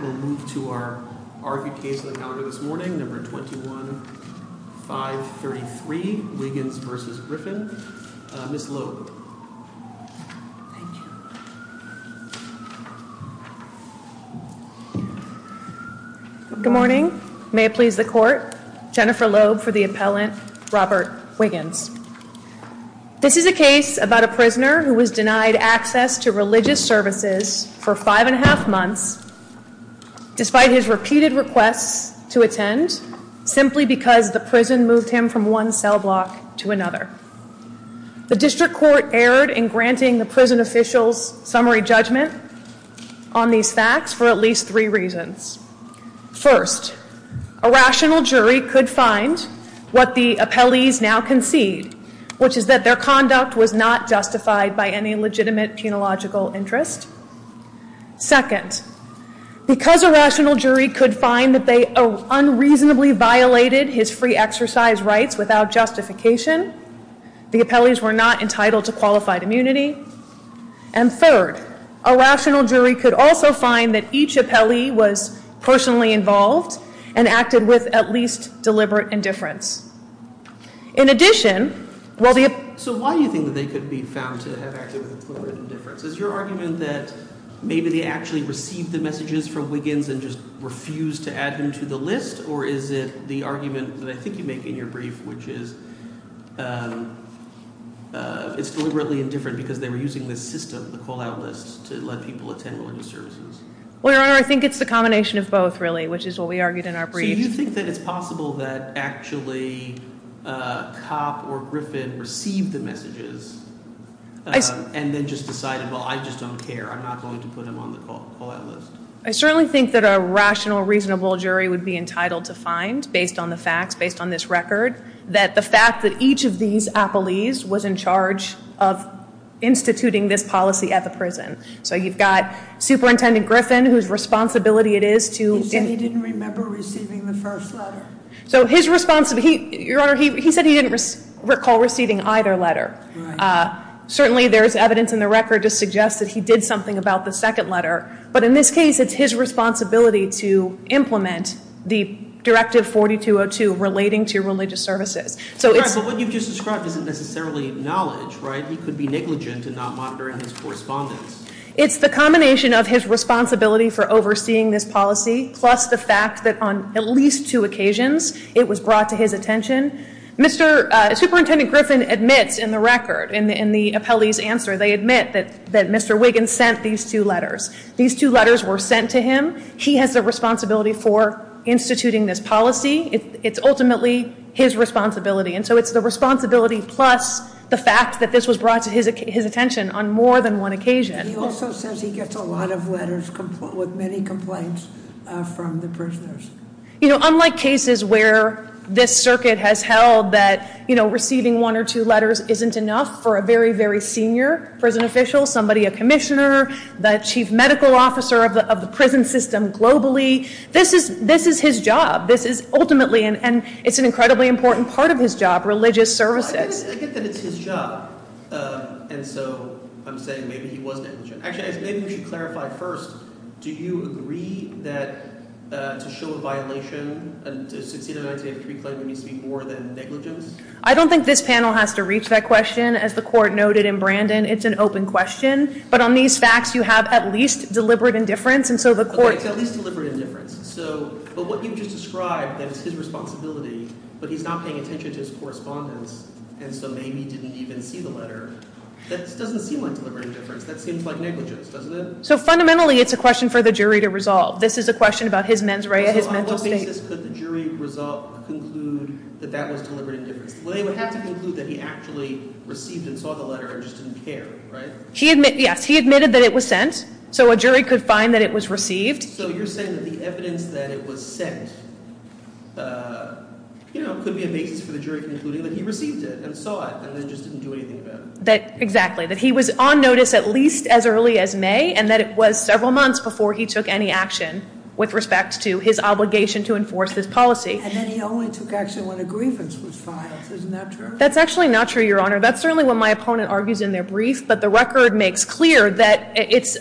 We'll move to our argued case on the calendar this morning, number 21-533, Wiggins v. Griffin. Ms. Loeb. Thank you. Good morning. May it please the court. Jennifer Loeb for the appellant, Robert Wiggins. This is a case about a prisoner who was denied access to religious services for five and a half months, despite his repeated requests to attend, simply because the prison moved him from one cell block to another. The district court erred in granting the prison official's summary judgment on these facts for at least three reasons. First, a rational jury could find what the appellees now concede, which is that their conduct was not justified by any legitimate penological interest. Second, because a rational jury could find that they unreasonably violated his free exercise rights without justification, the appellees were not entitled to qualified immunity. And third, a rational jury could also find that each appellee was personally involved and acted with at least deliberate indifference. In addition, while the- So why do you think that they could be found to have acted with deliberate indifference? Is your argument that maybe they actually received the messages from Wiggins and just refused to add them to the list? Or is it the argument that I think you make in your brief, which is it's deliberately indifferent because they were using this system, the call-out list, to let people attend religious services? Well, Your Honor, I think it's the combination of both, really, which is what we argued in our brief. So you think that it's possible that actually Copp or Griffin received the messages and then just decided, well, I just don't care. I'm not going to put them on the call-out list. I certainly think that a rational, reasonable jury would be entitled to find, based on the facts, based on this record, that the fact that each of these appellees was in charge of instituting this policy at the prison. So you've got Superintendent Griffin, whose responsibility it is to- He said he didn't remember receiving the first letter. So his responsibility- Your Honor, he said he didn't recall receiving either letter. Certainly, there's evidence in the record to suggest that he did something about the second letter. But in this case, it's his responsibility to implement the Directive 4202 relating to religious services. Your Honor, but what you've just described isn't necessarily knowledge, right? He could be negligent in not monitoring his correspondence. It's the combination of his responsibility for overseeing this policy plus the fact that on at least two occasions it was brought to his attention. Superintendent Griffin admits in the record, in the appellee's answer, they admit that Mr. Wiggins sent these two letters. These two letters were sent to him. He has the responsibility for instituting this policy. It's ultimately his responsibility. And so it's the responsibility plus the fact that this was brought to his attention on more than one occasion. He also says he gets a lot of letters with many complaints from the prisoners. Unlike cases where this circuit has held that receiving one or two letters isn't enough for a very, very senior prison official, somebody, a commissioner, the chief medical officer of the prison system globally, this is his job. This is ultimately – and it's an incredibly important part of his job, religious services. I get that it's his job, and so I'm saying maybe he was negligent. Actually, maybe we should clarify first. Do you agree that to show a violation, to succeed in a 1983 claim, there needs to be more than negligence? I don't think this panel has to reach that question. As the court noted in Brandon, it's an open question. But on these facts, you have at least deliberate indifference, and so the court – At least deliberate indifference. But what you just described, that it's his responsibility, but he's not paying attention to his correspondence, and so maybe didn't even see the letter, that doesn't seem like deliberate indifference. That seems like negligence, doesn't it? So fundamentally it's a question for the jury to resolve. This is a question about his mens rea, his mental state. On what basis could the jury conclude that that was deliberate indifference? They would have to conclude that he actually received and saw the letter and just didn't care, right? Yes, he admitted that it was sent, so a jury could find that it was received. So you're saying that the evidence that it was sent, you know, could be a basis for the jury concluding that he received it and saw it and then just didn't do anything about it? Exactly. That he was on notice at least as early as May and that it was several months before he took any action with respect to his obligation to enforce this policy. And then he only took action when a grievance was filed. Isn't that true? That's actually not true, Your Honor. That's certainly what my opponent argues in their brief. But the record makes clear that it's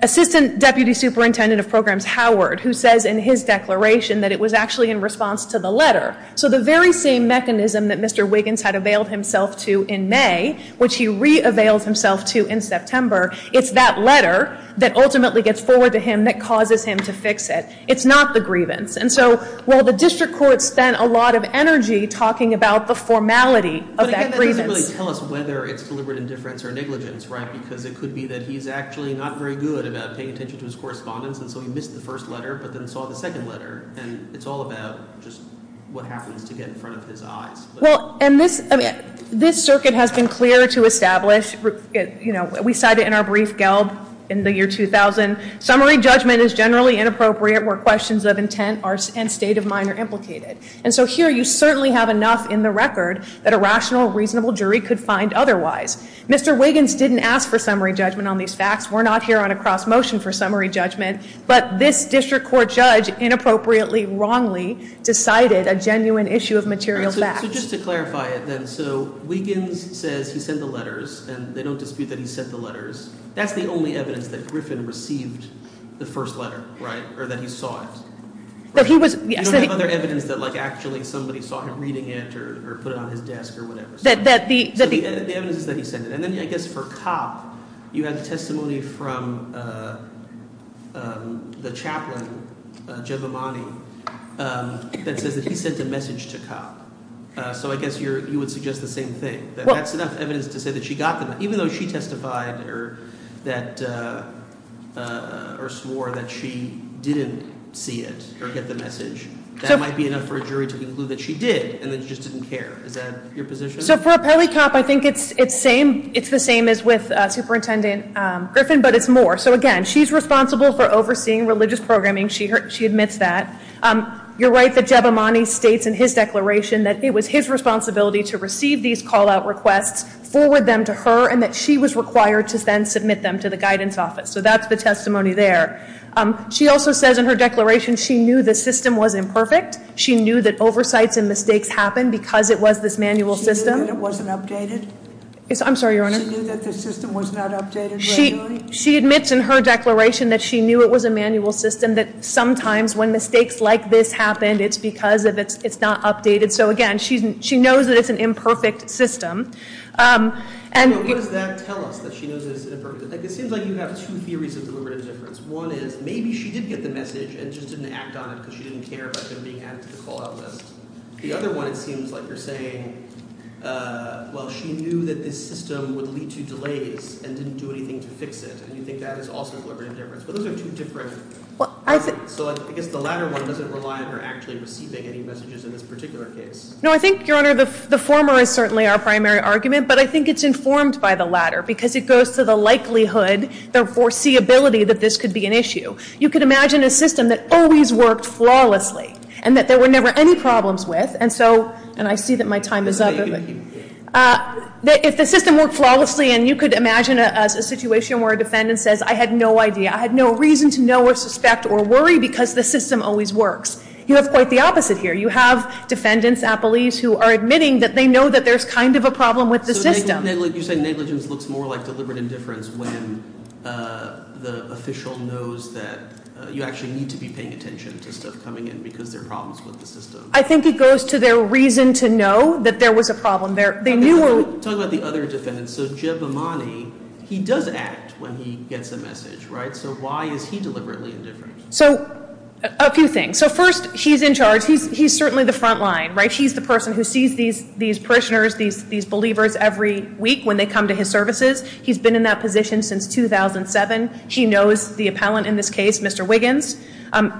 Assistant Deputy Superintendent of Programs Howard who says in his declaration that it was actually in response to the letter. So the very same mechanism that Mr. Wiggins had availed himself to in May, which he re-availed himself to in September, it's that letter that ultimately gets forward to him that causes him to fix it. It's not the grievance. And so, well, the district court spent a lot of energy talking about the formality of that grievance. But again, that doesn't really tell us whether it's deliberate indifference or negligence, right? Because it could be that he's actually not very good about paying attention to his correspondence. And so he missed the first letter but then saw the second letter. And it's all about just what happens to get in front of his eyes. Well, and this circuit has been clear to establish. You know, we cite it in our brief, Gelb, in the year 2000. Summary judgment is generally inappropriate where questions of intent and state of mind are implicated. And so here you certainly have enough in the record that a rational, reasonable jury could find otherwise. Mr. Wiggins didn't ask for summary judgment on these facts. We're not here on a cross motion for summary judgment. But this district court judge inappropriately, wrongly decided a genuine issue of material facts. So just to clarify it then, so Wiggins says he sent the letters and they don't dispute that he sent the letters. That's the only evidence that Griffin received the first letter, right, or that he saw it. You don't have other evidence that, like, actually somebody saw him reading it or put it on his desk or whatever. So the evidence is that he sent it. And then I guess for Copp, you had testimony from the chaplain, Jeb Amani, that says that he sent a message to Copp. So I guess you would suggest the same thing, that that's enough evidence to say that she got them. Even though she testified or swore that she didn't see it or get the message, that might be enough for a jury to conclude that she did and that she just didn't care. Is that your position? So for Pele Copp, I think it's the same as with Superintendent Griffin, but it's more. So again, she's responsible for overseeing religious programming. She admits that. You're right that Jeb Amani states in his declaration that it was his responsibility to receive these callout requests, forward them to her, and that she was required to then submit them to the guidance office. So that's the testimony there. She also says in her declaration she knew the system was imperfect. She knew that oversights and mistakes happened because it was this manual system. She knew that it wasn't updated? I'm sorry, Your Honor. She knew that the system was not updated regularly? She admits in her declaration that she knew it was a manual system, that sometimes when mistakes like this happen, it's because it's not updated. So again, she knows that it's an imperfect system. What does that tell us, that she knows it's imperfect? It seems like you have two theories of deliberative difference. One is maybe she did get the message and just didn't act on it because she didn't care about them being added to the callout list. The other one, it seems like you're saying, well, she knew that this system would lead to delays and didn't do anything to fix it, and you think that is also deliberative difference. But those are two different things. So I guess the latter one doesn't rely on her actually receiving any messages in this particular case. No, I think, Your Honor, the former is certainly our primary argument, but I think it's informed by the latter because it goes to the likelihood, the foreseeability that this could be an issue. You could imagine a system that always worked flawlessly and that there were never any problems with. And so, and I see that my time is up. If the system worked flawlessly and you could imagine a situation where a defendant says, I had no idea, I had no reason to know or suspect or worry because the system always works. You have quite the opposite here. You have defendants, appellees who are admitting that they know that there's kind of a problem with the system. So you're saying negligence looks more like deliberate indifference when the official knows that you actually need to be paying attention to stuff coming in because there are problems with the system. I think it goes to their reason to know that there was a problem there. Talk about the other defendants. So Jeb Amani, he does act when he gets a message, right? So why is he deliberately indifferent? So a few things. So first, he's in charge. He's certainly the front line, right? He's the person who sees these parishioners, these believers every week when they come to his services. He's been in that position since 2007. He knows the appellant in this case, Mr. Wiggins.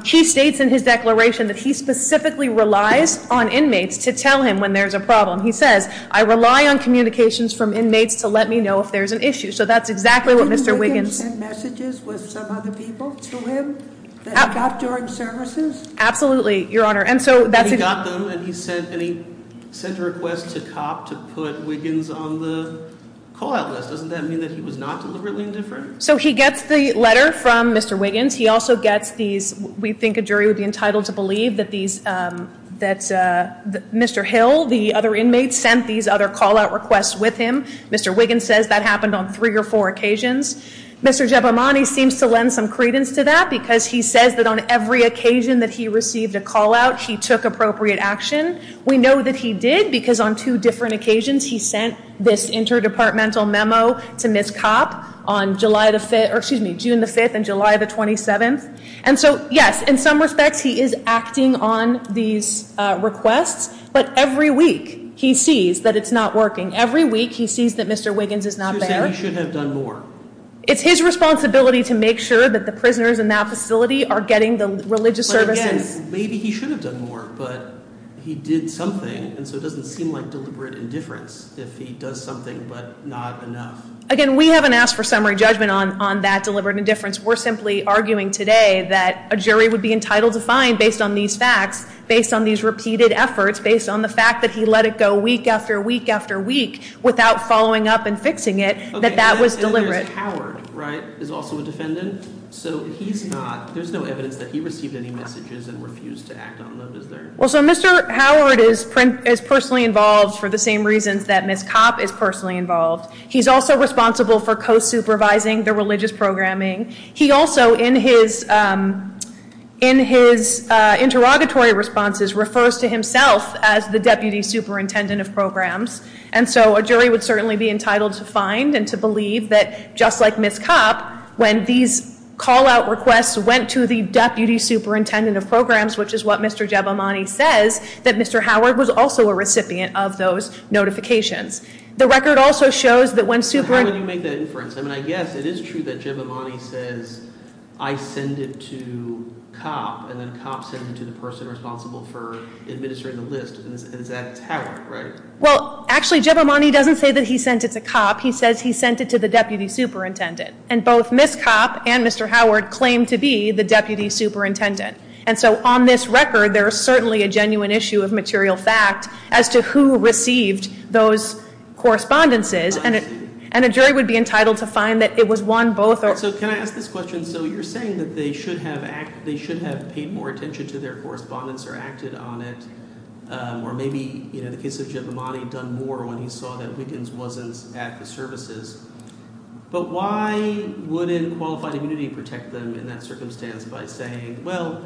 He states in his declaration that he specifically relies on inmates to tell him when there's a problem. He says, I rely on communications from inmates to let me know if there's an issue. So that's exactly what Mr. Wiggins- Didn't Wiggins send messages with some other people to him that he got during services? Absolutely, Your Honor. And he got them, and he sent a request to COP to put Wiggins on the call-out list. Doesn't that mean that he was not deliberately indifferent? So he gets the letter from Mr. Wiggins. We think a jury would be entitled to believe that Mr. Hill, the other inmate, sent these other call-out requests with him. Mr. Wiggins says that happened on three or four occasions. Mr. Giabamonte seems to lend some credence to that because he says that on every occasion that he received a call-out, he took appropriate action. We know that he did because on two different occasions he sent this interdepartmental memo to Ms. Copp on June the 5th and July the 27th. And so, yes, in some respects he is acting on these requests. But every week he sees that it's not working. Every week he sees that Mr. Wiggins is not there. You're saying he should have done more. It's his responsibility to make sure that the prisoners in that facility are getting the religious services. In a sense, maybe he should have done more, but he did something. And so it doesn't seem like deliberate indifference if he does something but not enough. Again, we haven't asked for summary judgment on that deliberate indifference. We're simply arguing today that a jury would be entitled to find, based on these facts, based on these repeated efforts, based on the fact that he let it go week after week after week without following up and fixing it, that that was deliberate. Mr. Howard, right, is also a defendant. So he's not, there's no evidence that he received any messages and refused to act on them, is there? Well, so Mr. Howard is personally involved for the same reasons that Ms. Copp is personally involved. He's also responsible for co-supervising the religious programming. He also, in his interrogatory responses, refers to himself as the deputy superintendent of programs. And so a jury would certainly be entitled to find and to believe that, just like Ms. Copp, when these call-out requests went to the deputy superintendent of programs, which is what Mr. Jebimani says, that Mr. Howard was also a recipient of those notifications. The record also shows that when super- How would you make that inference? I mean, I guess it is true that Jebimani says, I send it to Copp, and then Copp sends it to the person responsible for administering the list, and that's Howard, right? Well, actually, Jebimani doesn't say that he sent it to Copp. He says he sent it to the deputy superintendent, and both Ms. Copp and Mr. Howard claim to be the deputy superintendent. And so on this record, there is certainly a genuine issue of material fact as to who received those correspondences, and a jury would be entitled to find that it was one, both, or- So can I ask this question? So you're saying that they should have paid more attention to their correspondence or acted on it, or maybe, in the case of Jebimani, done more when he saw that Wiggins wasn't at the services. But why wouldn't qualified immunity protect them in that circumstance by saying, well,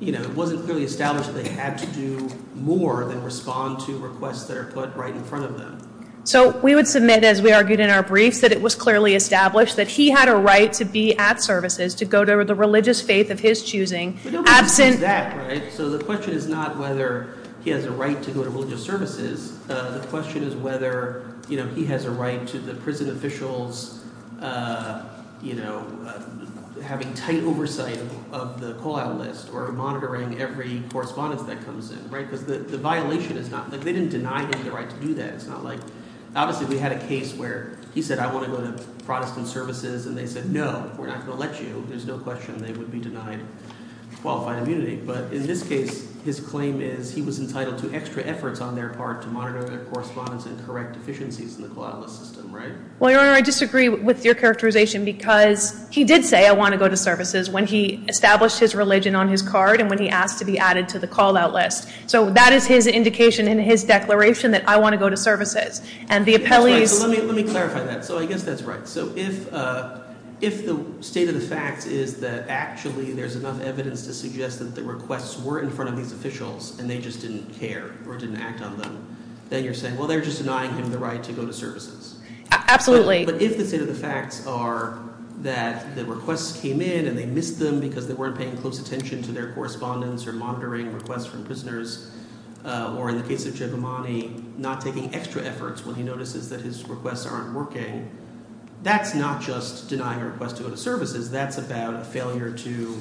it wasn't clearly established that they had to do more than respond to requests that are put right in front of them? So we would submit, as we argued in our briefs, that it was clearly established that he had a right to be at services, to go to the religious faith of his choosing, absent- So the question is not whether he has a right to go to religious services. The question is whether he has a right to the prison officials having tight oversight of the call-out list or monitoring every correspondence that comes in because the violation is not – they didn't deny him the right to do that. It's not like – obviously, we had a case where he said, I want to go to Protestant services, and they said, no, we're not going to let you. There's no question they would be denied qualified immunity. But in this case, his claim is he was entitled to extra efforts on their part to monitor their correspondence and correct deficiencies in the call-out list system, right? Well, Your Honor, I disagree with your characterization because he did say I want to go to services when he established his religion on his card and when he asked to be added to the call-out list. So that is his indication in his declaration that I want to go to services. And the appellees – Let me clarify that. So I guess that's right. So if the state of the fact is that actually there's enough evidence to suggest that the requests were in front of these officials and they just didn't care or didn't act on them, then you're saying, well, they're just denying him the right to go to services. Absolutely. But if the state of the facts are that the requests came in and they missed them because they weren't paying close attention to their correspondence or monitoring requests from prisoners or in the case of Giamatti, not taking extra efforts when he notices that his requests aren't working, that's not just denying a request to go to services. That's about a failure to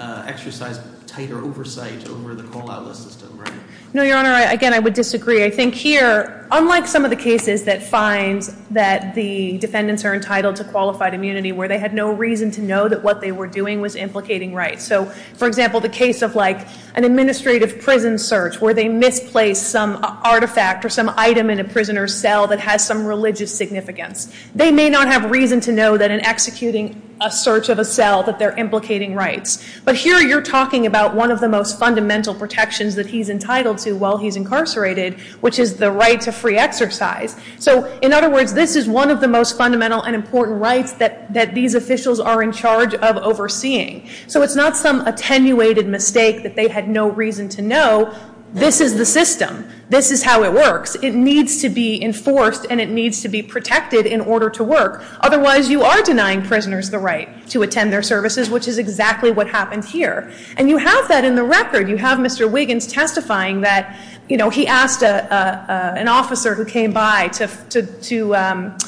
exercise tighter oversight over the call-out list system, right? No, Your Honor. Again, I would disagree. I think here, unlike some of the cases that find that the defendants are entitled to qualified immunity where they had no reason to know that what they were doing was implicating rights. So, for example, the case of an administrative prison search where they misplaced some artifact or some item in a prisoner's cell that has some religious significance. They may not have reason to know that in executing a search of a cell that they're implicating rights. But here you're talking about one of the most fundamental protections that he's entitled to while he's incarcerated, which is the right to free exercise. So, in other words, this is one of the most fundamental and important rights that these officials are in charge of overseeing. So it's not some attenuated mistake that they had no reason to know. This is the system. This is how it works. It needs to be enforced and it needs to be protected in order to work. Otherwise, you are denying prisoners the right to attend their services, which is exactly what happened here. And you have that in the record. You have Mr. Wiggins testifying that he asked an officer who came by to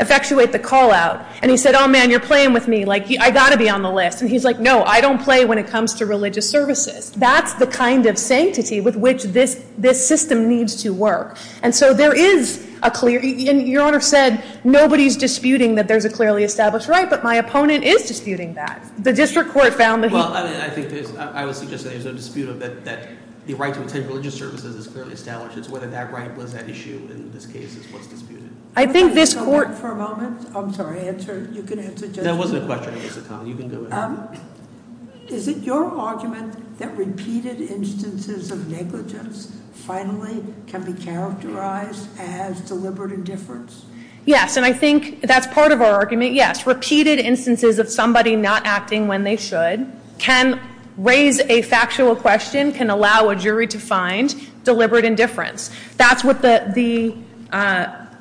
effectuate the call-out. And he said, oh, man, you're playing with me. Like, I've got to be on the list. And he's like, no, I don't play when it comes to religious services. That's the kind of sanctity with which this system needs to work. And so there is a clear – and your Honor said nobody's disputing that there's a clearly established right, but my opponent is disputing that. The district court found that he – Well, I think there's – I would suggest that there's a dispute of that the right to attend religious services is clearly established. It's whether that right was at issue in this case is what's disputed. I think this court – I'm sorry. Answer. You can answer, Judge. That wasn't a question. It was a comment. You can go ahead. Is it your argument that repeated instances of negligence finally can be characterized as deliberate indifference? Yes, and I think that's part of our argument, yes. Repeated instances of somebody not acting when they should can raise a factual question, can allow a jury to find deliberate indifference. That's what the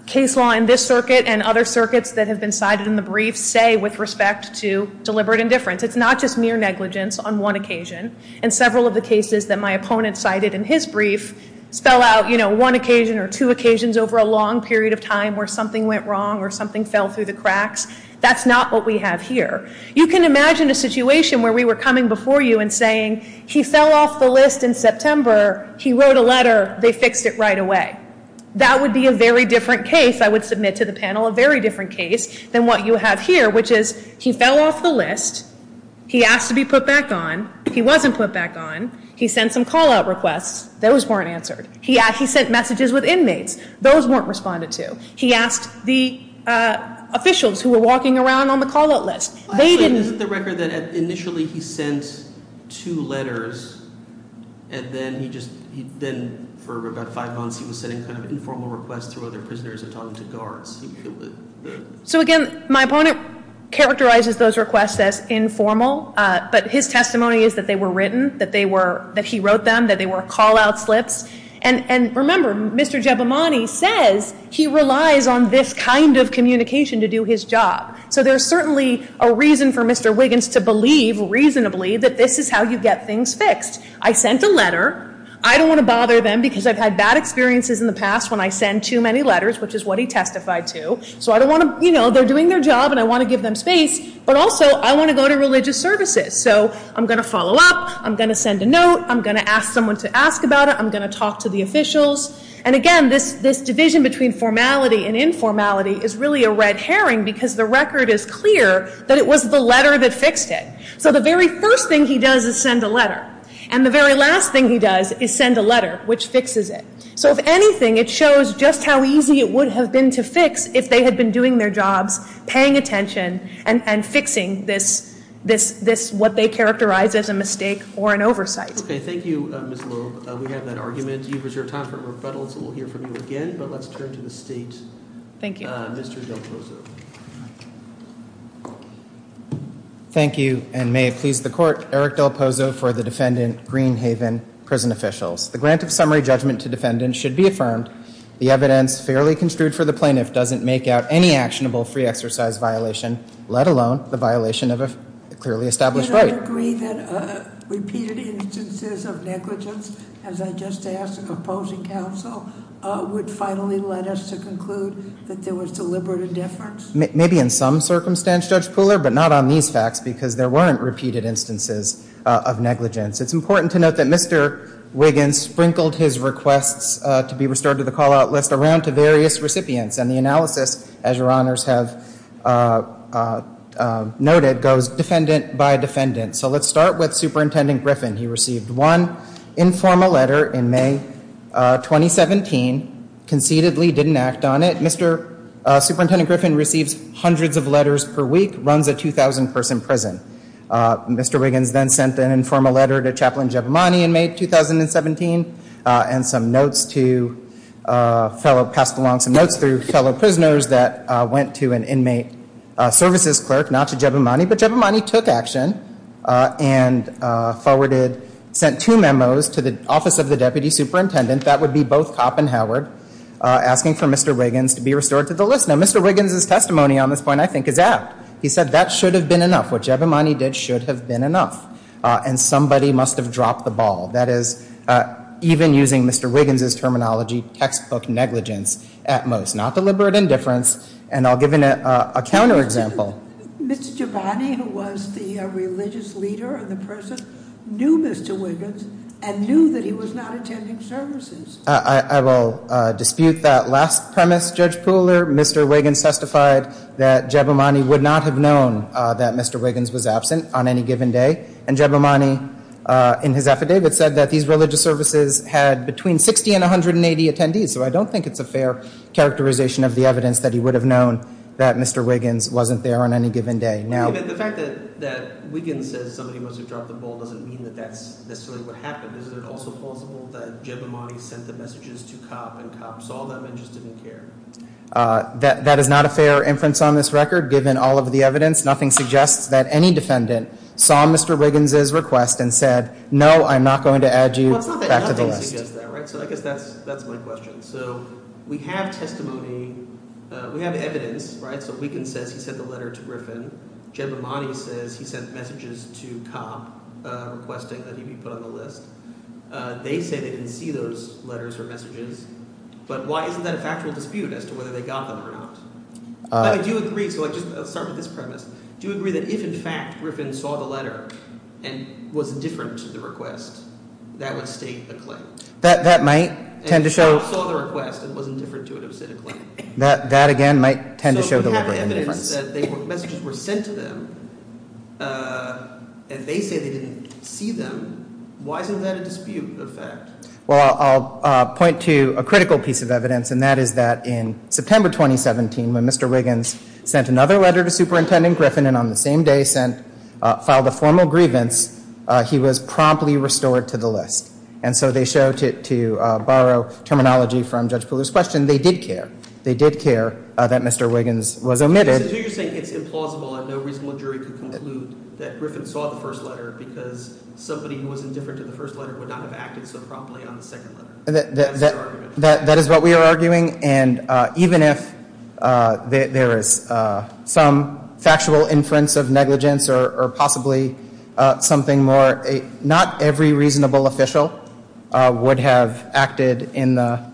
case law in this circuit and other circuits that have been cited in the brief say with respect to deliberate indifference. It's not just mere negligence on one occasion. And several of the cases that my opponent cited in his brief spell out, you know, one occasion or two occasions over a long period of time where something went wrong or something fell through the cracks. That's not what we have here. You can imagine a situation where we were coming before you and saying, he fell off the list in September. He wrote a letter. They fixed it right away. That would be a very different case, I would submit to the panel, a very different case than what you have here, which is he fell off the list. He asked to be put back on. He wasn't put back on. He sent some call-out requests. Those weren't answered. He sent messages with inmates. Those weren't responded to. He asked the officials who were walking around on the call-out list. Actually, isn't the record that initially he sent two letters and then he just, then for about five months he was sending kind of informal requests to other prisoners and talking to guards? So, again, my opponent characterizes those requests as informal, but his testimony is that they were written, that they were, that he wrote them, that they were call-out slips. And remember, Mr. Giabamonte says he relies on this kind of communication to do his job. So there's certainly a reason for Mr. Wiggins to believe reasonably that this is how you get things fixed. I sent a letter. I don't want to bother them because I've had bad experiences in the past when I send too many letters, which is what he testified to. So I don't want to, you know, they're doing their job and I want to give them space, but also I want to go to religious services. So I'm going to follow up. I'm going to send a note. I'm going to ask someone to ask about it. I'm going to talk to the officials. And, again, this division between formality and informality is really a red herring because the record is clear that it was the letter that fixed it. So the very first thing he does is send a letter. And the very last thing he does is send a letter, which fixes it. So, if anything, it shows just how easy it would have been to fix if they had been doing their jobs, paying attention, and fixing this, what they characterize as a mistake or an oversight. Okay. Thank you, Ms. Loeb. We have that argument. You've reserved time for rebuttal, so we'll hear from you again. But let's turn to the State. Thank you. Mr. Del Pozo. Thank you, and may it please the Court, Eric Del Pozo for the defendant, Greenhaven Prison Officials. The grant of summary judgment to defendants should be affirmed. The evidence fairly construed for the plaintiff doesn't make out any actionable free exercise violation, let alone the violation of a clearly established right. Do you agree that repeated instances of negligence, as I just asked the opposing counsel, would finally lead us to conclude that there was deliberate indifference? Maybe in some circumstance, Judge Pooler, but not on these facts, because there weren't repeated instances of negligence. It's important to note that Mr. Wiggins sprinkled his requests to be restored to the call-out list around to various recipients. And the analysis, as your honors have noted, goes defendant by defendant. So let's start with Superintendent Griffin. He received one informal letter in May 2017, concededly didn't act on it. Superintendent Griffin receives hundreds of letters per week, runs a 2,000-person prison. Mr. Wiggins then sent an informal letter to Chaplain Giabamani in May 2017, and some notes to fellow, passed along some notes through fellow prisoners that went to an inmate services clerk, not to Giabamani. But Giabamani took action and forwarded, sent two memos to the Office of the Deputy Superintendent. That would be both Copp and Howard, asking for Mr. Wiggins to be restored to the list. Now, Mr. Wiggins' testimony on this point, I think, is apt. He said that should have been enough. What Giabamani did should have been enough. And somebody must have dropped the ball. That is, even using Mr. Wiggins' terminology, textbook negligence at most. Not deliberate indifference. And I'll give a counter-example. Mr. Giovanni, who was the religious leader of the prison, knew Mr. Wiggins and knew that he was not attending services. I will dispute that last premise, Judge Pooler. Mr. Wiggins testified that Giabamani would not have known that Mr. Wiggins was absent on any given day. And Giabamani, in his affidavit, said that these religious services had between 60 and 180 attendees. So I don't think it's a fair characterization of the evidence that he would have known that Mr. Wiggins wasn't there on any given day. The fact that Wiggins says somebody must have dropped the ball doesn't mean that that's necessarily what happened. Is it also plausible that Giabamani sent the messages to Copp and Copp saw them and just didn't care? That is not a fair inference on this record, given all of the evidence. Nothing suggests that any defendant saw Mr. Wiggins' request and said, no, I'm not going to add you back to the list. So I guess that's my question. So we have testimony. We have evidence. So Wiggins says he sent the letter to Griffin. Giabamani says he sent messages to Copp requesting that he be put on the list. They say they didn't see those letters or messages. But why isn't that a factual dispute as to whether they got them or not? I do agree. So I'll start with this premise. Do you agree that if, in fact, Griffin saw the letter and was indifferent to the request, that would state a claim? That might tend to show – And if Copp saw the request and wasn't indifferent to it, it would state a claim. That, again, might tend to show the difference. So we have evidence that messages were sent to them, and they say they didn't see them. Why isn't that a dispute of fact? Well, I'll point to a critical piece of evidence, and that is that in September 2017, when Mr. Wiggins sent another letter to Superintendent Griffin and on the same day filed a formal grievance, he was promptly restored to the list. And so they show, to borrow terminology from Judge Palouse's question, they did care. They did care that Mr. Wiggins was omitted. So you're saying it's implausible and no reasonable jury could conclude that Griffin saw the first letter because somebody who was indifferent to the first letter would not have acted so promptly on the second letter? That is what we are arguing. And even if there is some factual inference of negligence or possibly something more, not every reasonable official would have acted in the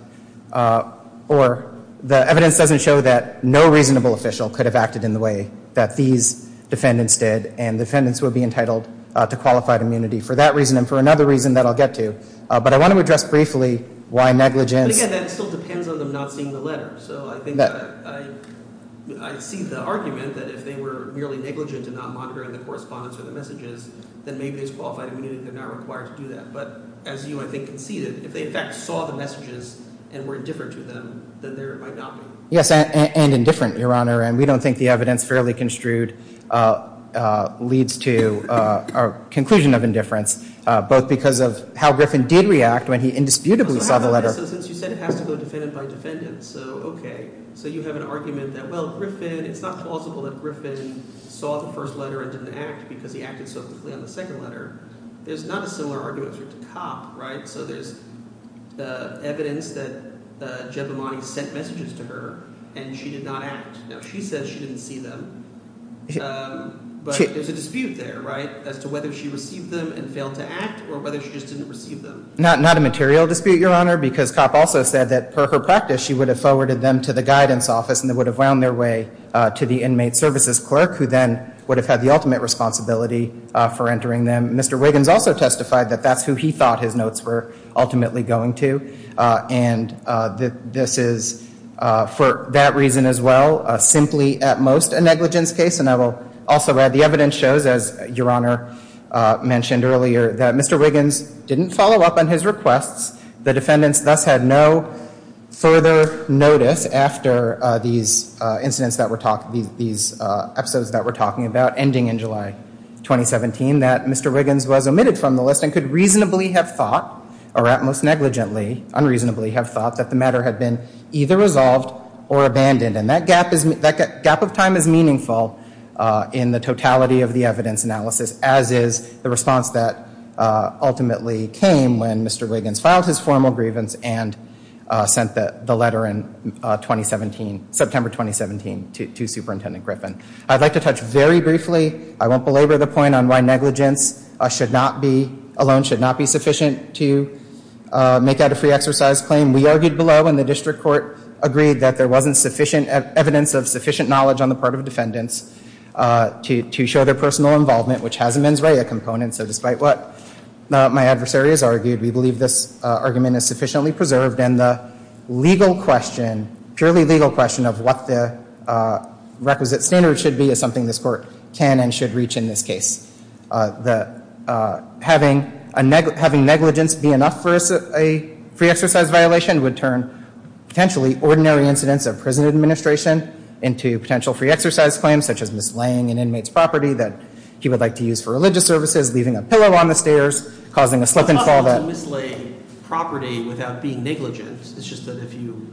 – or the evidence doesn't show that no reasonable official could have acted in the way that these defendants did, and defendants would be entitled to qualified immunity for that reason and for another reason that I'll get to. But I want to address briefly why negligence – But again, that still depends on them not seeing the letter. So I think that I see the argument that if they were merely negligent and not monitoring the correspondence or the messages, then maybe as qualified immunity they're not required to do that. But as you, I think, conceded, if they in fact saw the messages and were indifferent to them, then there might not be. Yes, and indifferent, Your Honor. And we don't think the evidence fairly construed leads to our conclusion of indifference, both because of how Griffin did react when he indisputably saw the letter. So since you said it has to go defendant by defendant, so okay. So you have an argument that, well, Griffin – it's not plausible that Griffin saw the first letter and didn't act because he acted so quickly on the second letter. There's not a similar argument to Copp, right? So there's evidence that Giammatti sent messages to her, and she did not act. Now, she says she didn't see them, but there's a dispute there, right, as to whether she received them and failed to act or whether she just didn't receive them. Not a material dispute, Your Honor, because Copp also said that, per her practice, she would have forwarded them to the guidance office and they would have wound their way to the inmate services clerk who then would have had the ultimate responsibility for entering them. Mr. Wiggins also testified that that's who he thought his notes were ultimately going to, and this is, for that reason as well, simply at most a negligence case. And I will also add the evidence shows, as Your Honor mentioned earlier, that Mr. Wiggins didn't follow up on his requests. The defendants thus had no further notice after these incidents that were – these episodes that we're talking about ending in July 2017 that Mr. Wiggins was omitted from the list and could reasonably have thought, or at most negligently, unreasonably have thought that the matter had been either resolved or abandoned. And that gap of time is meaningful in the totality of the evidence analysis, as is the response that ultimately came when Mr. Wiggins filed his formal grievance and sent the letter in 2017, September 2017, to Superintendent Griffin. I'd like to touch very briefly, I won't belabor the point on why negligence should not be, why it wasn't sufficient to make out a free exercise claim. We argued below, and the district court agreed that there wasn't sufficient evidence of sufficient knowledge on the part of defendants to show their personal involvement, which has a mens rea component. So despite what my adversary has argued, we believe this argument is sufficiently preserved. And the legal question, purely legal question, of what the requisite standard should be is something this court can and should reach in this case. That having negligence be enough for a free exercise violation would turn potentially ordinary incidents of prison administration into potential free exercise claims, such as mislaying an inmate's property that he would like to use for religious services, leaving a pillow on the stairs, causing a slip and fall that- It's not wrong to mislay property without being negligent. It's just that if you,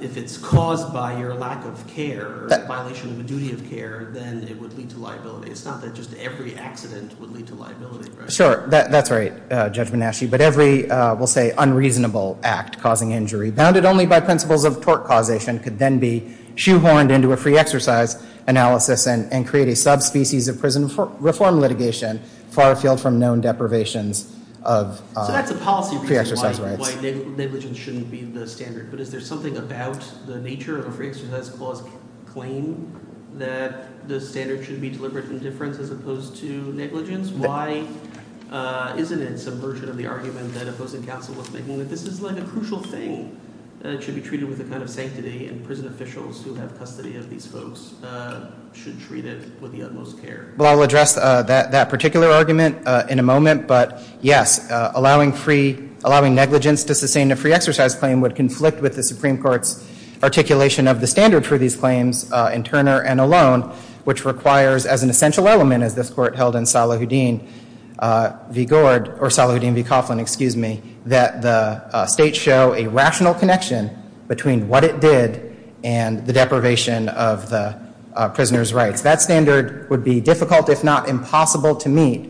if it's caused by your lack of care, a violation of a duty of care, then it would lead to liability. It's not that just every accident would lead to liability, right? Sure. That's right, Judge Manasci. But every, we'll say, unreasonable act causing injury, bounded only by principles of tort causation, could then be shoehorned into a free exercise analysis and create a subspecies of prison reform litigation far afield from known deprivations of- So that's a policy reason why negligence shouldn't be the standard. But is there something about the nature of a free exercise clause claim that the standard should be deliberate indifference as opposed to negligence? Why isn't it some version of the argument that opposing counsel was making that this is like a crucial thing that should be treated with a kind of sanctity and prison officials who have custody of these folks should treat it with the utmost care? Well, I'll address that particular argument in a moment. But yes, allowing free, allowing negligence to sustain a free exercise claim would conflict with the Supreme Court's articulation of the standard for these claims in Turner and alone, which requires as an essential element, as this court held in Salahuddin v. Gord, or Salahuddin v. Coughlin, excuse me, that the state show a rational connection between what it did and the deprivation of the prisoner's rights. That standard would be difficult if not impossible to meet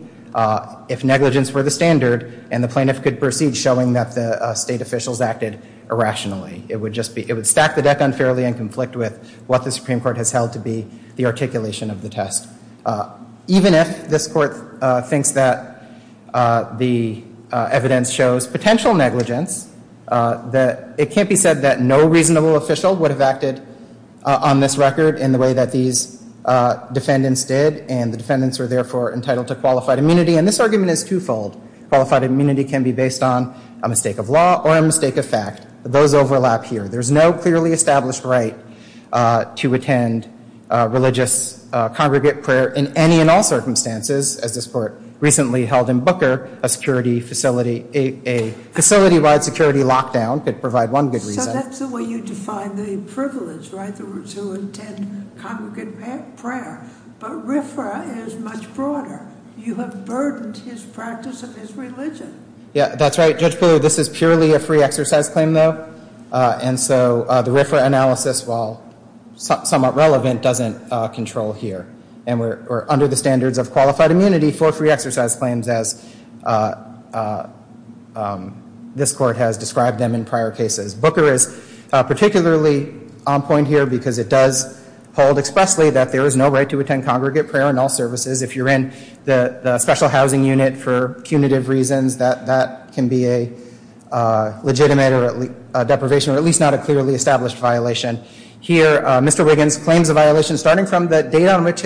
if negligence were the standard and the plaintiff could proceed showing that the state officials acted irrationally. It would stack the deck unfairly and conflict with what the Supreme Court has held to be the articulation of the test. Even if this court thinks that the evidence shows potential negligence, it can't be said that no reasonable official would have acted on this record in the way that these defendants did and the defendants were therefore entitled to qualified immunity. And this argument is twofold. Qualified immunity can be based on a mistake of law or a mistake of fact. Those overlap here. There's no clearly established right to attend religious congregate prayer in any and all circumstances, as this court recently held in Booker, a facility-wide security lockdown could provide one good reason. So that's the way you define the privilege, right, to attend congregate prayer. But RFRA is much broader. You have burdened his practice and his religion. Yeah, that's right. Judge Booler, this is purely a free exercise claim, though, and so the RFRA analysis, while somewhat relevant, doesn't control here. And we're under the standards of qualified immunity for free exercise claims as this court has described them in prior cases. Booker is particularly on point here because it does hold expressly that there is no right to attend congregate prayer in all services. If you're in the special housing unit for punitive reasons, that can be a legitimate deprivation, or at least not a clearly established violation. Here Mr. Wiggins claims a violation starting from the date on which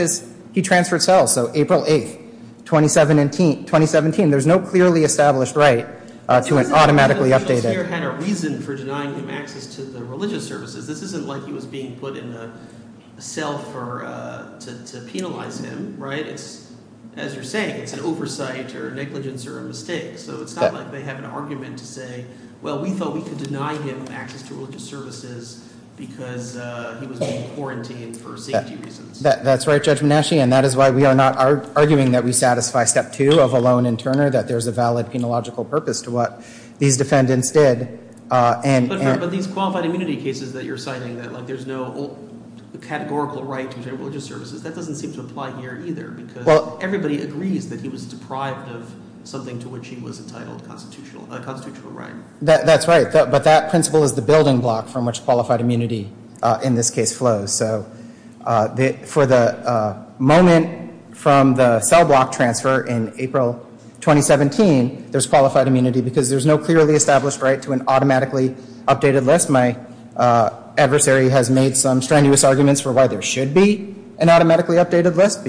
he transferred cells, so April 8th, 2017. There's no clearly established right to an automatically updated. He doesn't seem to have a reason for denying him access to the religious services. This isn't like he was being put in a cell to penalize him, right? As you're saying, it's an oversight or negligence or a mistake, so it's not like they have an argument to say, well, we thought we could deny him access to religious services because he was being quarantined for safety reasons. That's right, Judge Menasche, and that is why we are not arguing that we satisfy step two of Alone and Turner, that there's a valid penological purpose to what these defendants did. But these qualified immunity cases that you're citing, that there's no categorical right to religious services, that doesn't seem to apply here either, because everybody agrees that he was deprived of something to which he was entitled constitutional right. That's right, but that principle is the building block from which qualified immunity in this case flows. So for the moment from the cell block transfer in April 2017, there's qualified immunity because there's no clearly established right to an automatically updated list. My adversary has made some strenuous arguments for why there should be an automatically updated list,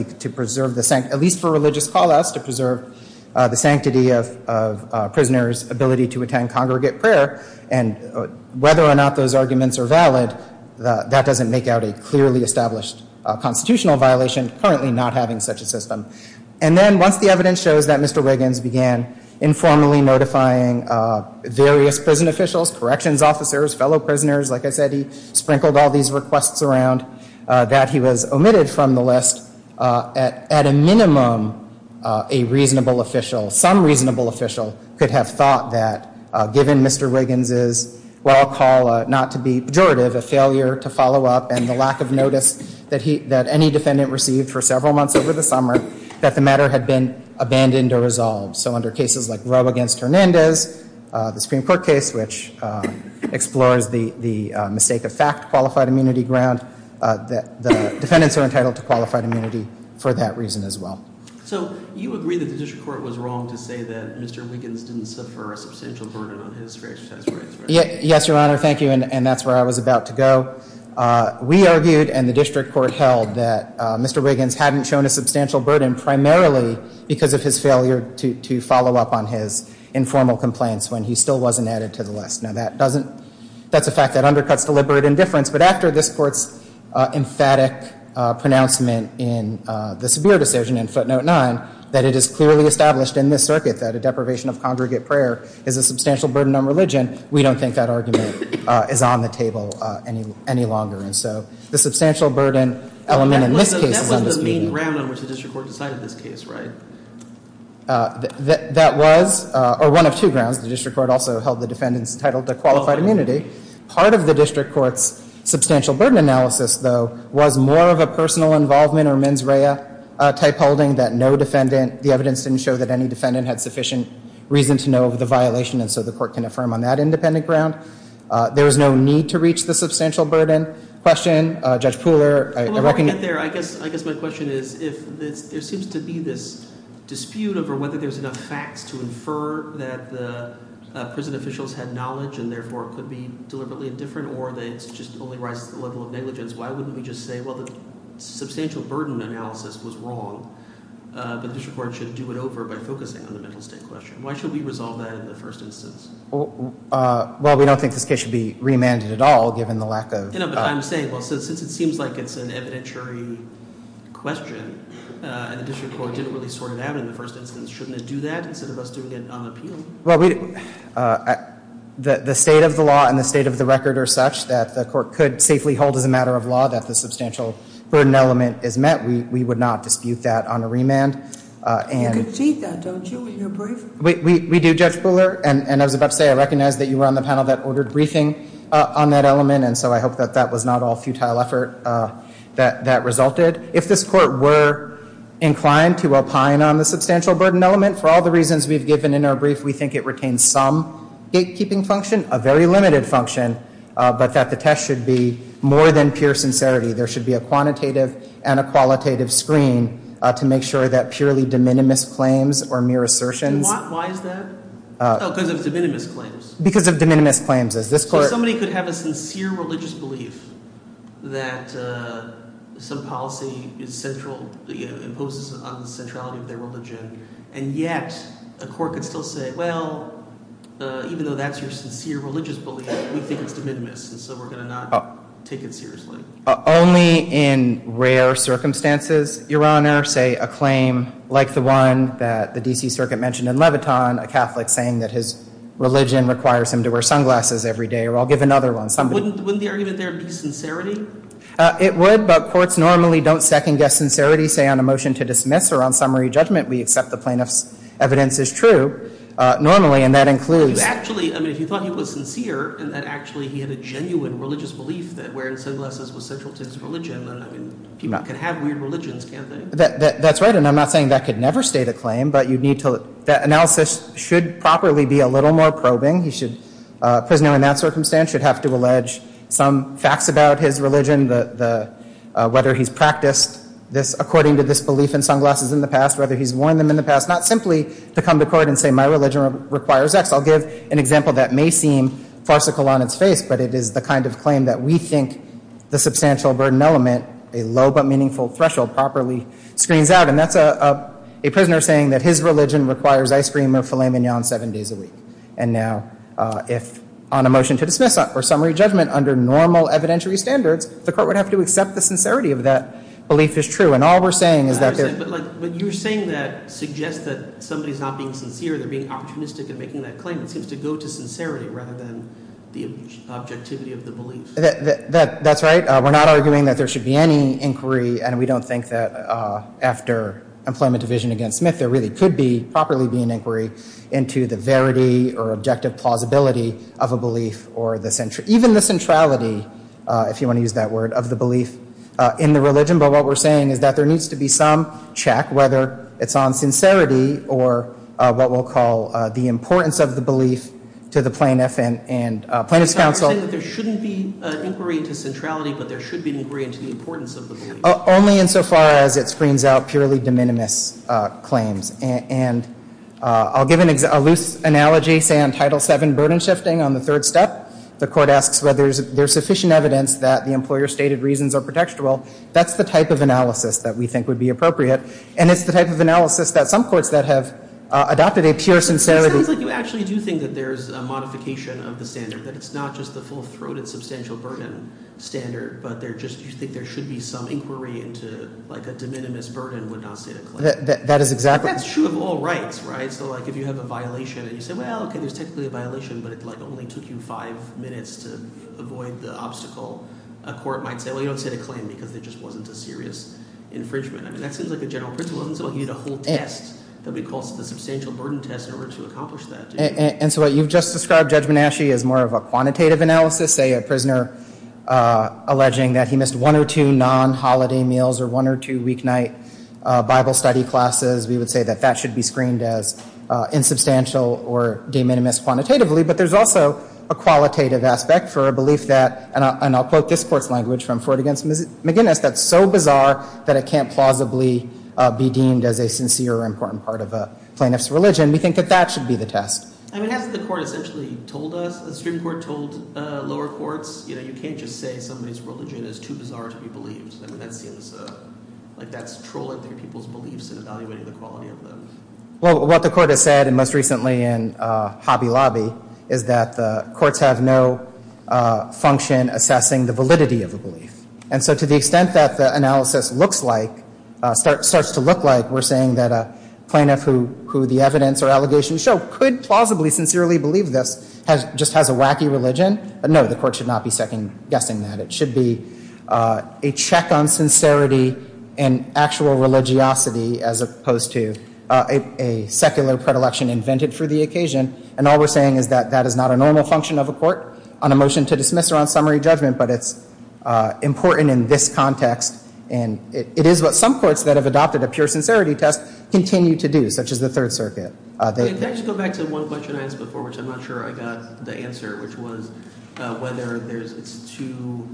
at least for religious call-outs, to preserve the sanctity of prisoners' ability to attend congregate prayer, and whether or not those arguments are valid, that doesn't make out a clearly established constitutional violation, currently not having such a system. And then once the evidence shows that Mr. Wiggins began informally notifying various prison officials, corrections officers, fellow prisoners, like I said he sprinkled all these requests around, that he was omitted from the list, at a minimum a reasonable official, some reasonable official, could have thought that given Mr. Wiggins' well call not to be pejorative, a failure to follow up, and the lack of notice that any defendant received for several months over the summer, that the matter had been abandoned or resolved. So under cases like Roe against Hernandez, the Supreme Court case, which explores the mistake-of-fact qualified immunity ground, the defendants are entitled to qualified immunity for that reason as well. So you agree that the district court was wrong to say that Mr. Wiggins didn't suffer a substantial burden on his franchise rights, right? Yes, Your Honor, thank you, and that's where I was about to go. We argued and the district court held that Mr. Wiggins hadn't shown a substantial burden, primarily because of his failure to follow up on his informal complaints when he still wasn't added to the list. Now that doesn't, that's a fact that undercuts deliberate indifference, but after this court's emphatic pronouncement in the Sabir decision in footnote 9, that it is clearly established in this circuit that a deprivation of congregate prayer is a substantial burden on religion, we don't think that argument is on the table any longer. And so the substantial burden element in this case is on this meeting. That's the ground on which the district court decided this case, right? That was, or one of two grounds. The district court also held the defendants entitled to qualified immunity. Part of the district court's substantial burden analysis, though, was more of a personal involvement or mens rea type holding that no defendant, the evidence didn't show that any defendant had sufficient reason to know of the violation, and so the court can affirm on that independent ground. There is no need to reach the substantial burden question. Judge Pooler? Before we get there, I guess my question is, if there seems to be this dispute over whether there's enough facts to infer that the prison officials had knowledge and therefore could be deliberately indifferent or that it just only rises to the level of negligence, why wouldn't we just say, well, the substantial burden analysis was wrong, but the district court should do it over by focusing on the mental state question? Why should we resolve that in the first instance? Well, we don't think this case should be remanded at all, given the lack of I'm saying, well, since it seems like it's an evidentiary question, and the district court didn't really sort it out in the first instance, shouldn't it do that instead of us doing it on appeal? Well, the state of the law and the state of the record are such that the court could safely hold as a matter of law that the substantial burden element is met. We would not dispute that on a remand. You can cheat that, don't you, in your briefing? We do, Judge Pooler, and I was about to say, I recognize that you were on the panel that ordered briefing on that element, and so I hope that that was not all futile effort that resulted. If this court were inclined to opine on the substantial burden element, for all the reasons we've given in our brief, we think it retains some gatekeeping function, a very limited function, but that the test should be more than pure sincerity. There should be a quantitative and a qualitative screen to make sure that purely de minimis claims or mere assertions Why is that? Oh, because of de minimis claims. Because of de minimis claims. If somebody could have a sincere religious belief that some policy is central, imposes on the centrality of their religion, and yet a court could still say, well, even though that's your sincere religious belief, we think it's de minimis, and so we're going to not take it seriously. Only in rare circumstances, Your Honor, say a claim like the one that the D.C. Circuit mentioned in Leviton, a Catholic saying that his religion requires him to wear sunglasses every day, or I'll give another one. Wouldn't the argument there be sincerity? It would, but courts normally don't second-guess sincerity, say on a motion to dismiss or on summary judgment, we accept the plaintiff's evidence is true normally, and that includes Actually, I mean, if you thought he was sincere, and that actually he had a genuine religious belief that wearing sunglasses was central to his religion, I mean, people can have weird religions, can't they? That's right, and I'm not saying that could never stay the claim, but that analysis should properly be a little more probing. A prisoner in that circumstance should have to allege some facts about his religion, whether he's practiced this according to this belief in sunglasses in the past, whether he's worn them in the past, not simply to come to court and say my religion requires X. I'll give an example that may seem farcical on its face, but it is the kind of claim that we think the substantial burden element, a low but meaningful threshold, properly screens out, and that's a prisoner saying that his religion requires ice cream or filet mignon seven days a week, and now if on a motion to dismiss or summary judgment under normal evidentiary standards, the court would have to accept the sincerity of that belief is true, and all we're saying is that there's But you're saying that suggests that somebody's not being sincere. They're being opportunistic in making that claim. It seems to go to sincerity rather than the objectivity of the belief. That's right. We're not arguing that there should be any inquiry, and we don't think that after employment division against Smith, there really could be properly be an inquiry into the verity or objective plausibility of a belief or the century, even the centrality, if you want to use that word, of the belief in the religion. But what we're saying is that there needs to be some check, whether it's on sincerity or what we'll call the importance of the belief to the plaintiff and plaintiff's counsel. You're saying that there shouldn't be an inquiry into centrality, but there should be an inquiry into the importance of the belief. Only insofar as it screens out purely de minimis claims, and I'll give a loose analogy, say, on Title VII burden shifting on the third step. The court asks whether there's sufficient evidence that the employer stated reasons are predictable. That's the type of analysis that we think would be appropriate, and it's the type of analysis that some courts that have adopted a pure sincerity It sounds like you actually do think that there's a modification of the standard, that it's not just the full-throated substantial burden standard, but you think there should be some inquiry into like a de minimis burden would not state a claim. That is exactly – That's true of all rights, right? So like if you have a violation and you say, well, okay, there's technically a violation, but it like only took you five minutes to avoid the obstacle, a court might say, well, you don't state a claim because there just wasn't a serious infringement. I mean that seems like a general principle. And so what you've just described, Judge Menasche, is more of a quantitative analysis, say a prisoner alleging that he missed one or two non-holiday meals or one or two weeknight Bible study classes. We would say that that should be screened as insubstantial or de minimis quantitatively, but there's also a qualitative aspect for a belief that, and I'll quote this court's language from Ford v. McGinnis, that's so bizarre that it can't plausibly be deemed as a sincere or important part of a plaintiff's religion. We think that that should be the test. I mean hasn't the court essentially told us, the Supreme Court told lower courts, you can't just say somebody's religion is too bizarre to be believed. I mean that seems like that's trolling through people's beliefs and evaluating the quality of them. Well, what the court has said, and most recently in Hobby Lobby, And so to the extent that the analysis looks like, starts to look like, we're saying that a plaintiff who the evidence or allegations show could plausibly, sincerely believe this just has a wacky religion. No, the court should not be second-guessing that. It should be a check on sincerity and actual religiosity as opposed to a secular predilection invented for the occasion. And all we're saying is that that is not a normal function of a court on a motion to dismiss or on summary judgment, but it's important in this context. And it is what some courts that have adopted a pure sincerity test continue to do, such as the Third Circuit. Can I just go back to one question I asked before which I'm not sure I got the answer, which was whether it's too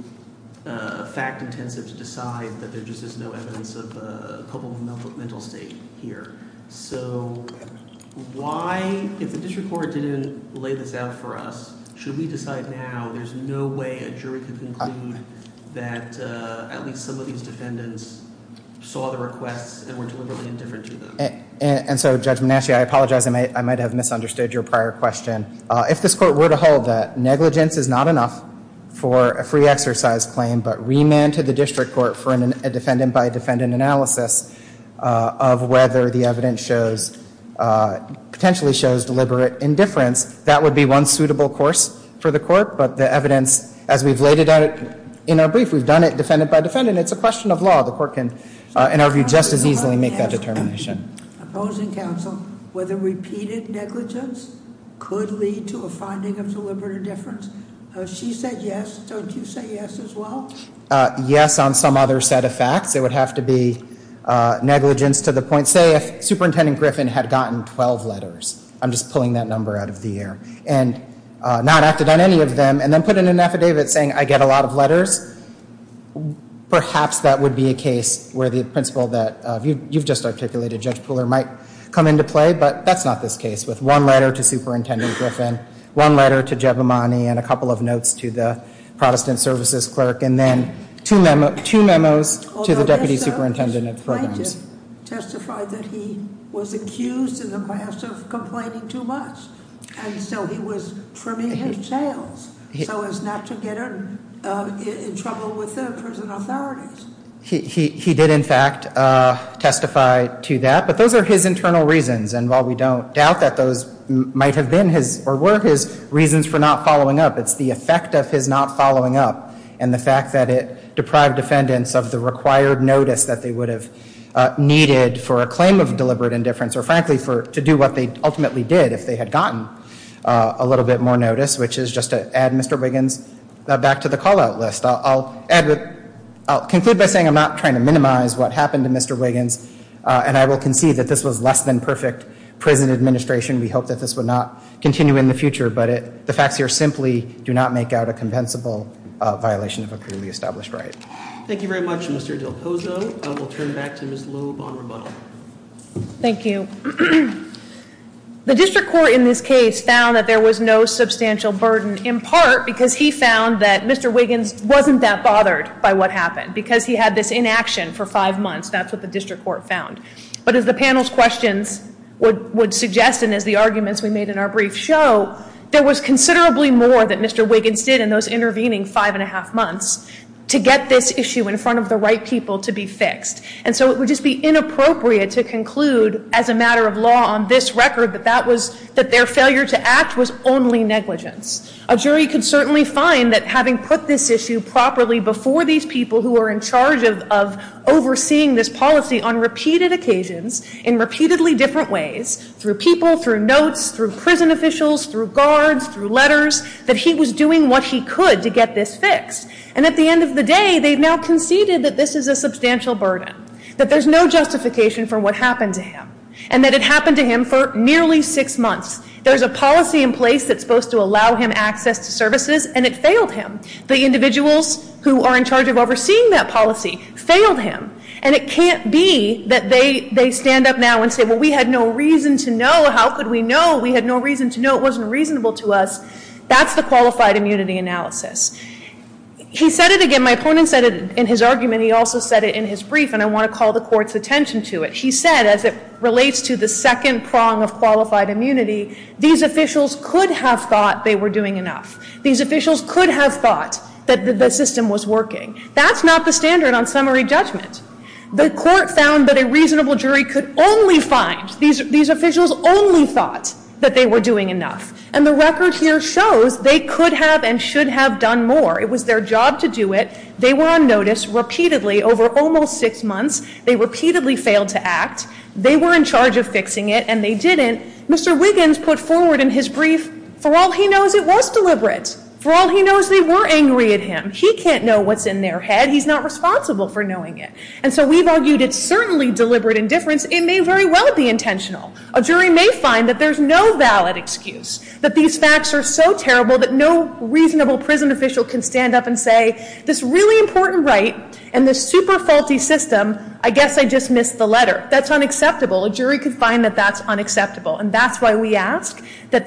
fact-intensive to decide that there just is no evidence of a culpable mental state here. So why, if the district court didn't lay this out for us, should we decide now there's no way a jury could conclude that at least some of these defendants saw the requests and were deliberately indifferent to them? And so, Judge Manasci, I apologize. I might have misunderstood your prior question. If this court were to hold that negligence is not enough for a free exercise claim, but remand to the district court for a defendant-by-defendant analysis of whether the evidence shows, potentially shows deliberate indifference, that would be one suitable course for the court. But the evidence, as we've laid it out in our brief, we've done it defendant-by-defendant. It's a question of law. The court can, in our view, just as easily make that determination. Opposing counsel, whether repeated negligence could lead to a finding of deliberate indifference. She said yes. Don't you say yes as well? Yes on some other set of facts. It would have to be negligence to the point, say, if Superintendent Griffin had gotten 12 letters. I'm just pulling that number out of the air. And not acted on any of them, and then put in an affidavit saying I get a lot of letters, perhaps that would be a case where the principle that you've just articulated, Judge Pooler, might come into play, but that's not this case. With one letter to Superintendent Griffin, one letter to Jeb Amani, and a couple of notes to the Protestant Services Clerk, and then two memos to the Deputy Superintendent of Programs. Although this plaintiff testified that he was accused in the past of complaining too much, and so he was trimming his tails so as not to get in trouble with the prison authorities. He did, in fact, testify to that. But those are his internal reasons, and while we don't doubt that those might have been his or were his reasons for not following up, it's the effect of his not following up and the fact that it deprived defendants of the required notice that they would have needed for a claim of deliberate indifference, or frankly, to do what they ultimately did if they had gotten a little bit more notice, which is just to add Mr. Wiggins back to the call-out list. I'll conclude by saying I'm not trying to minimize what happened to Mr. Wiggins, and I will concede that this was less than perfect prison administration. We hope that this will not continue in the future, but the facts here simply do not make out a compensable violation of a clearly established right. Thank you very much, Mr. Del Pozo. I will turn back to Ms. Loeb on rebuttal. Thank you. The district court in this case found that there was no substantial burden, in part because he found that Mr. Wiggins wasn't that bothered by what happened, because he had this inaction for five months. That's what the district court found. But as the panel's questions would suggest and as the arguments we made in our brief show, there was considerably more that Mr. Wiggins did in those intervening five and a half months to get this issue in front of the right people to be fixed. And so it would just be inappropriate to conclude as a matter of law on this record that their failure to act was only negligence. A jury could certainly find that having put this issue properly before these people who are in charge of overseeing this policy on repeated occasions, in repeatedly different ways, through people, through notes, through prison officials, through guards, through letters, that he was doing what he could to get this fixed. And at the end of the day, they've now conceded that this is a substantial burden, that there's no justification for what happened to him, and that it happened to him for nearly six months. There's a policy in place that's supposed to allow him access to services, and it failed him. The individuals who are in charge of overseeing that policy failed him. And it can't be that they stand up now and say, well, we had no reason to know. How could we know? We had no reason to know. It wasn't reasonable to us. That's the qualified immunity analysis. He said it again. My opponent said it in his argument. He also said it in his brief, and I want to call the Court's attention to it. He said, as it relates to the second prong of qualified immunity, these officials could have thought they were doing enough. These officials could have thought that the system was working. That's not the standard on summary judgment. The Court found that a reasonable jury could only find, these officials only thought that they were doing enough. And the record here shows they could have and should have done more. It was their job to do it. They were on notice repeatedly over almost six months. They repeatedly failed to act. They were in charge of fixing it, and they didn't. Mr. Wiggins put forward in his brief, for all he knows, it was deliberate. For all he knows, they were angry at him. He can't know what's in their head. He's not responsible for knowing it. And so we've argued it's certainly deliberate indifference. It may very well be intentional. A jury may find that there's no valid excuse, that these facts are so terrible that no reasonable prison official can stand up and say, this really important right and this super faulty system, I guess I just missed the letter. That's unacceptable. A jury could find that that's unacceptable. And that's why we ask that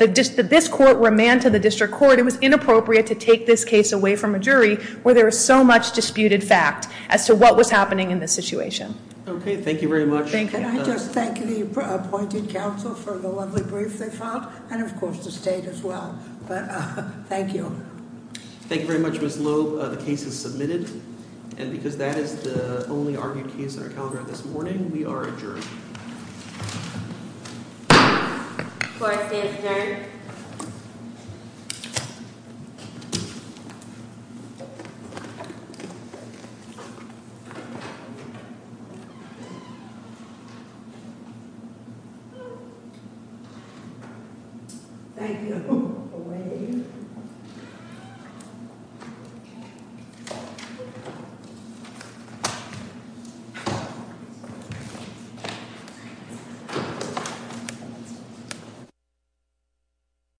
this Court were manned to the District Court. It was inappropriate to take this case away from a jury where there is so much disputed fact as to what was happening in this situation. Okay. Thank you very much. Thank you. And I just thank the appointed counsel for the lovely brief they filed. And of course, the State as well. But thank you. Thank you very much, Ms. Loeb. The case is submitted. And because that is the only argued case on our calendar this morning, we are adjourned. Court is adjourned. Thank you.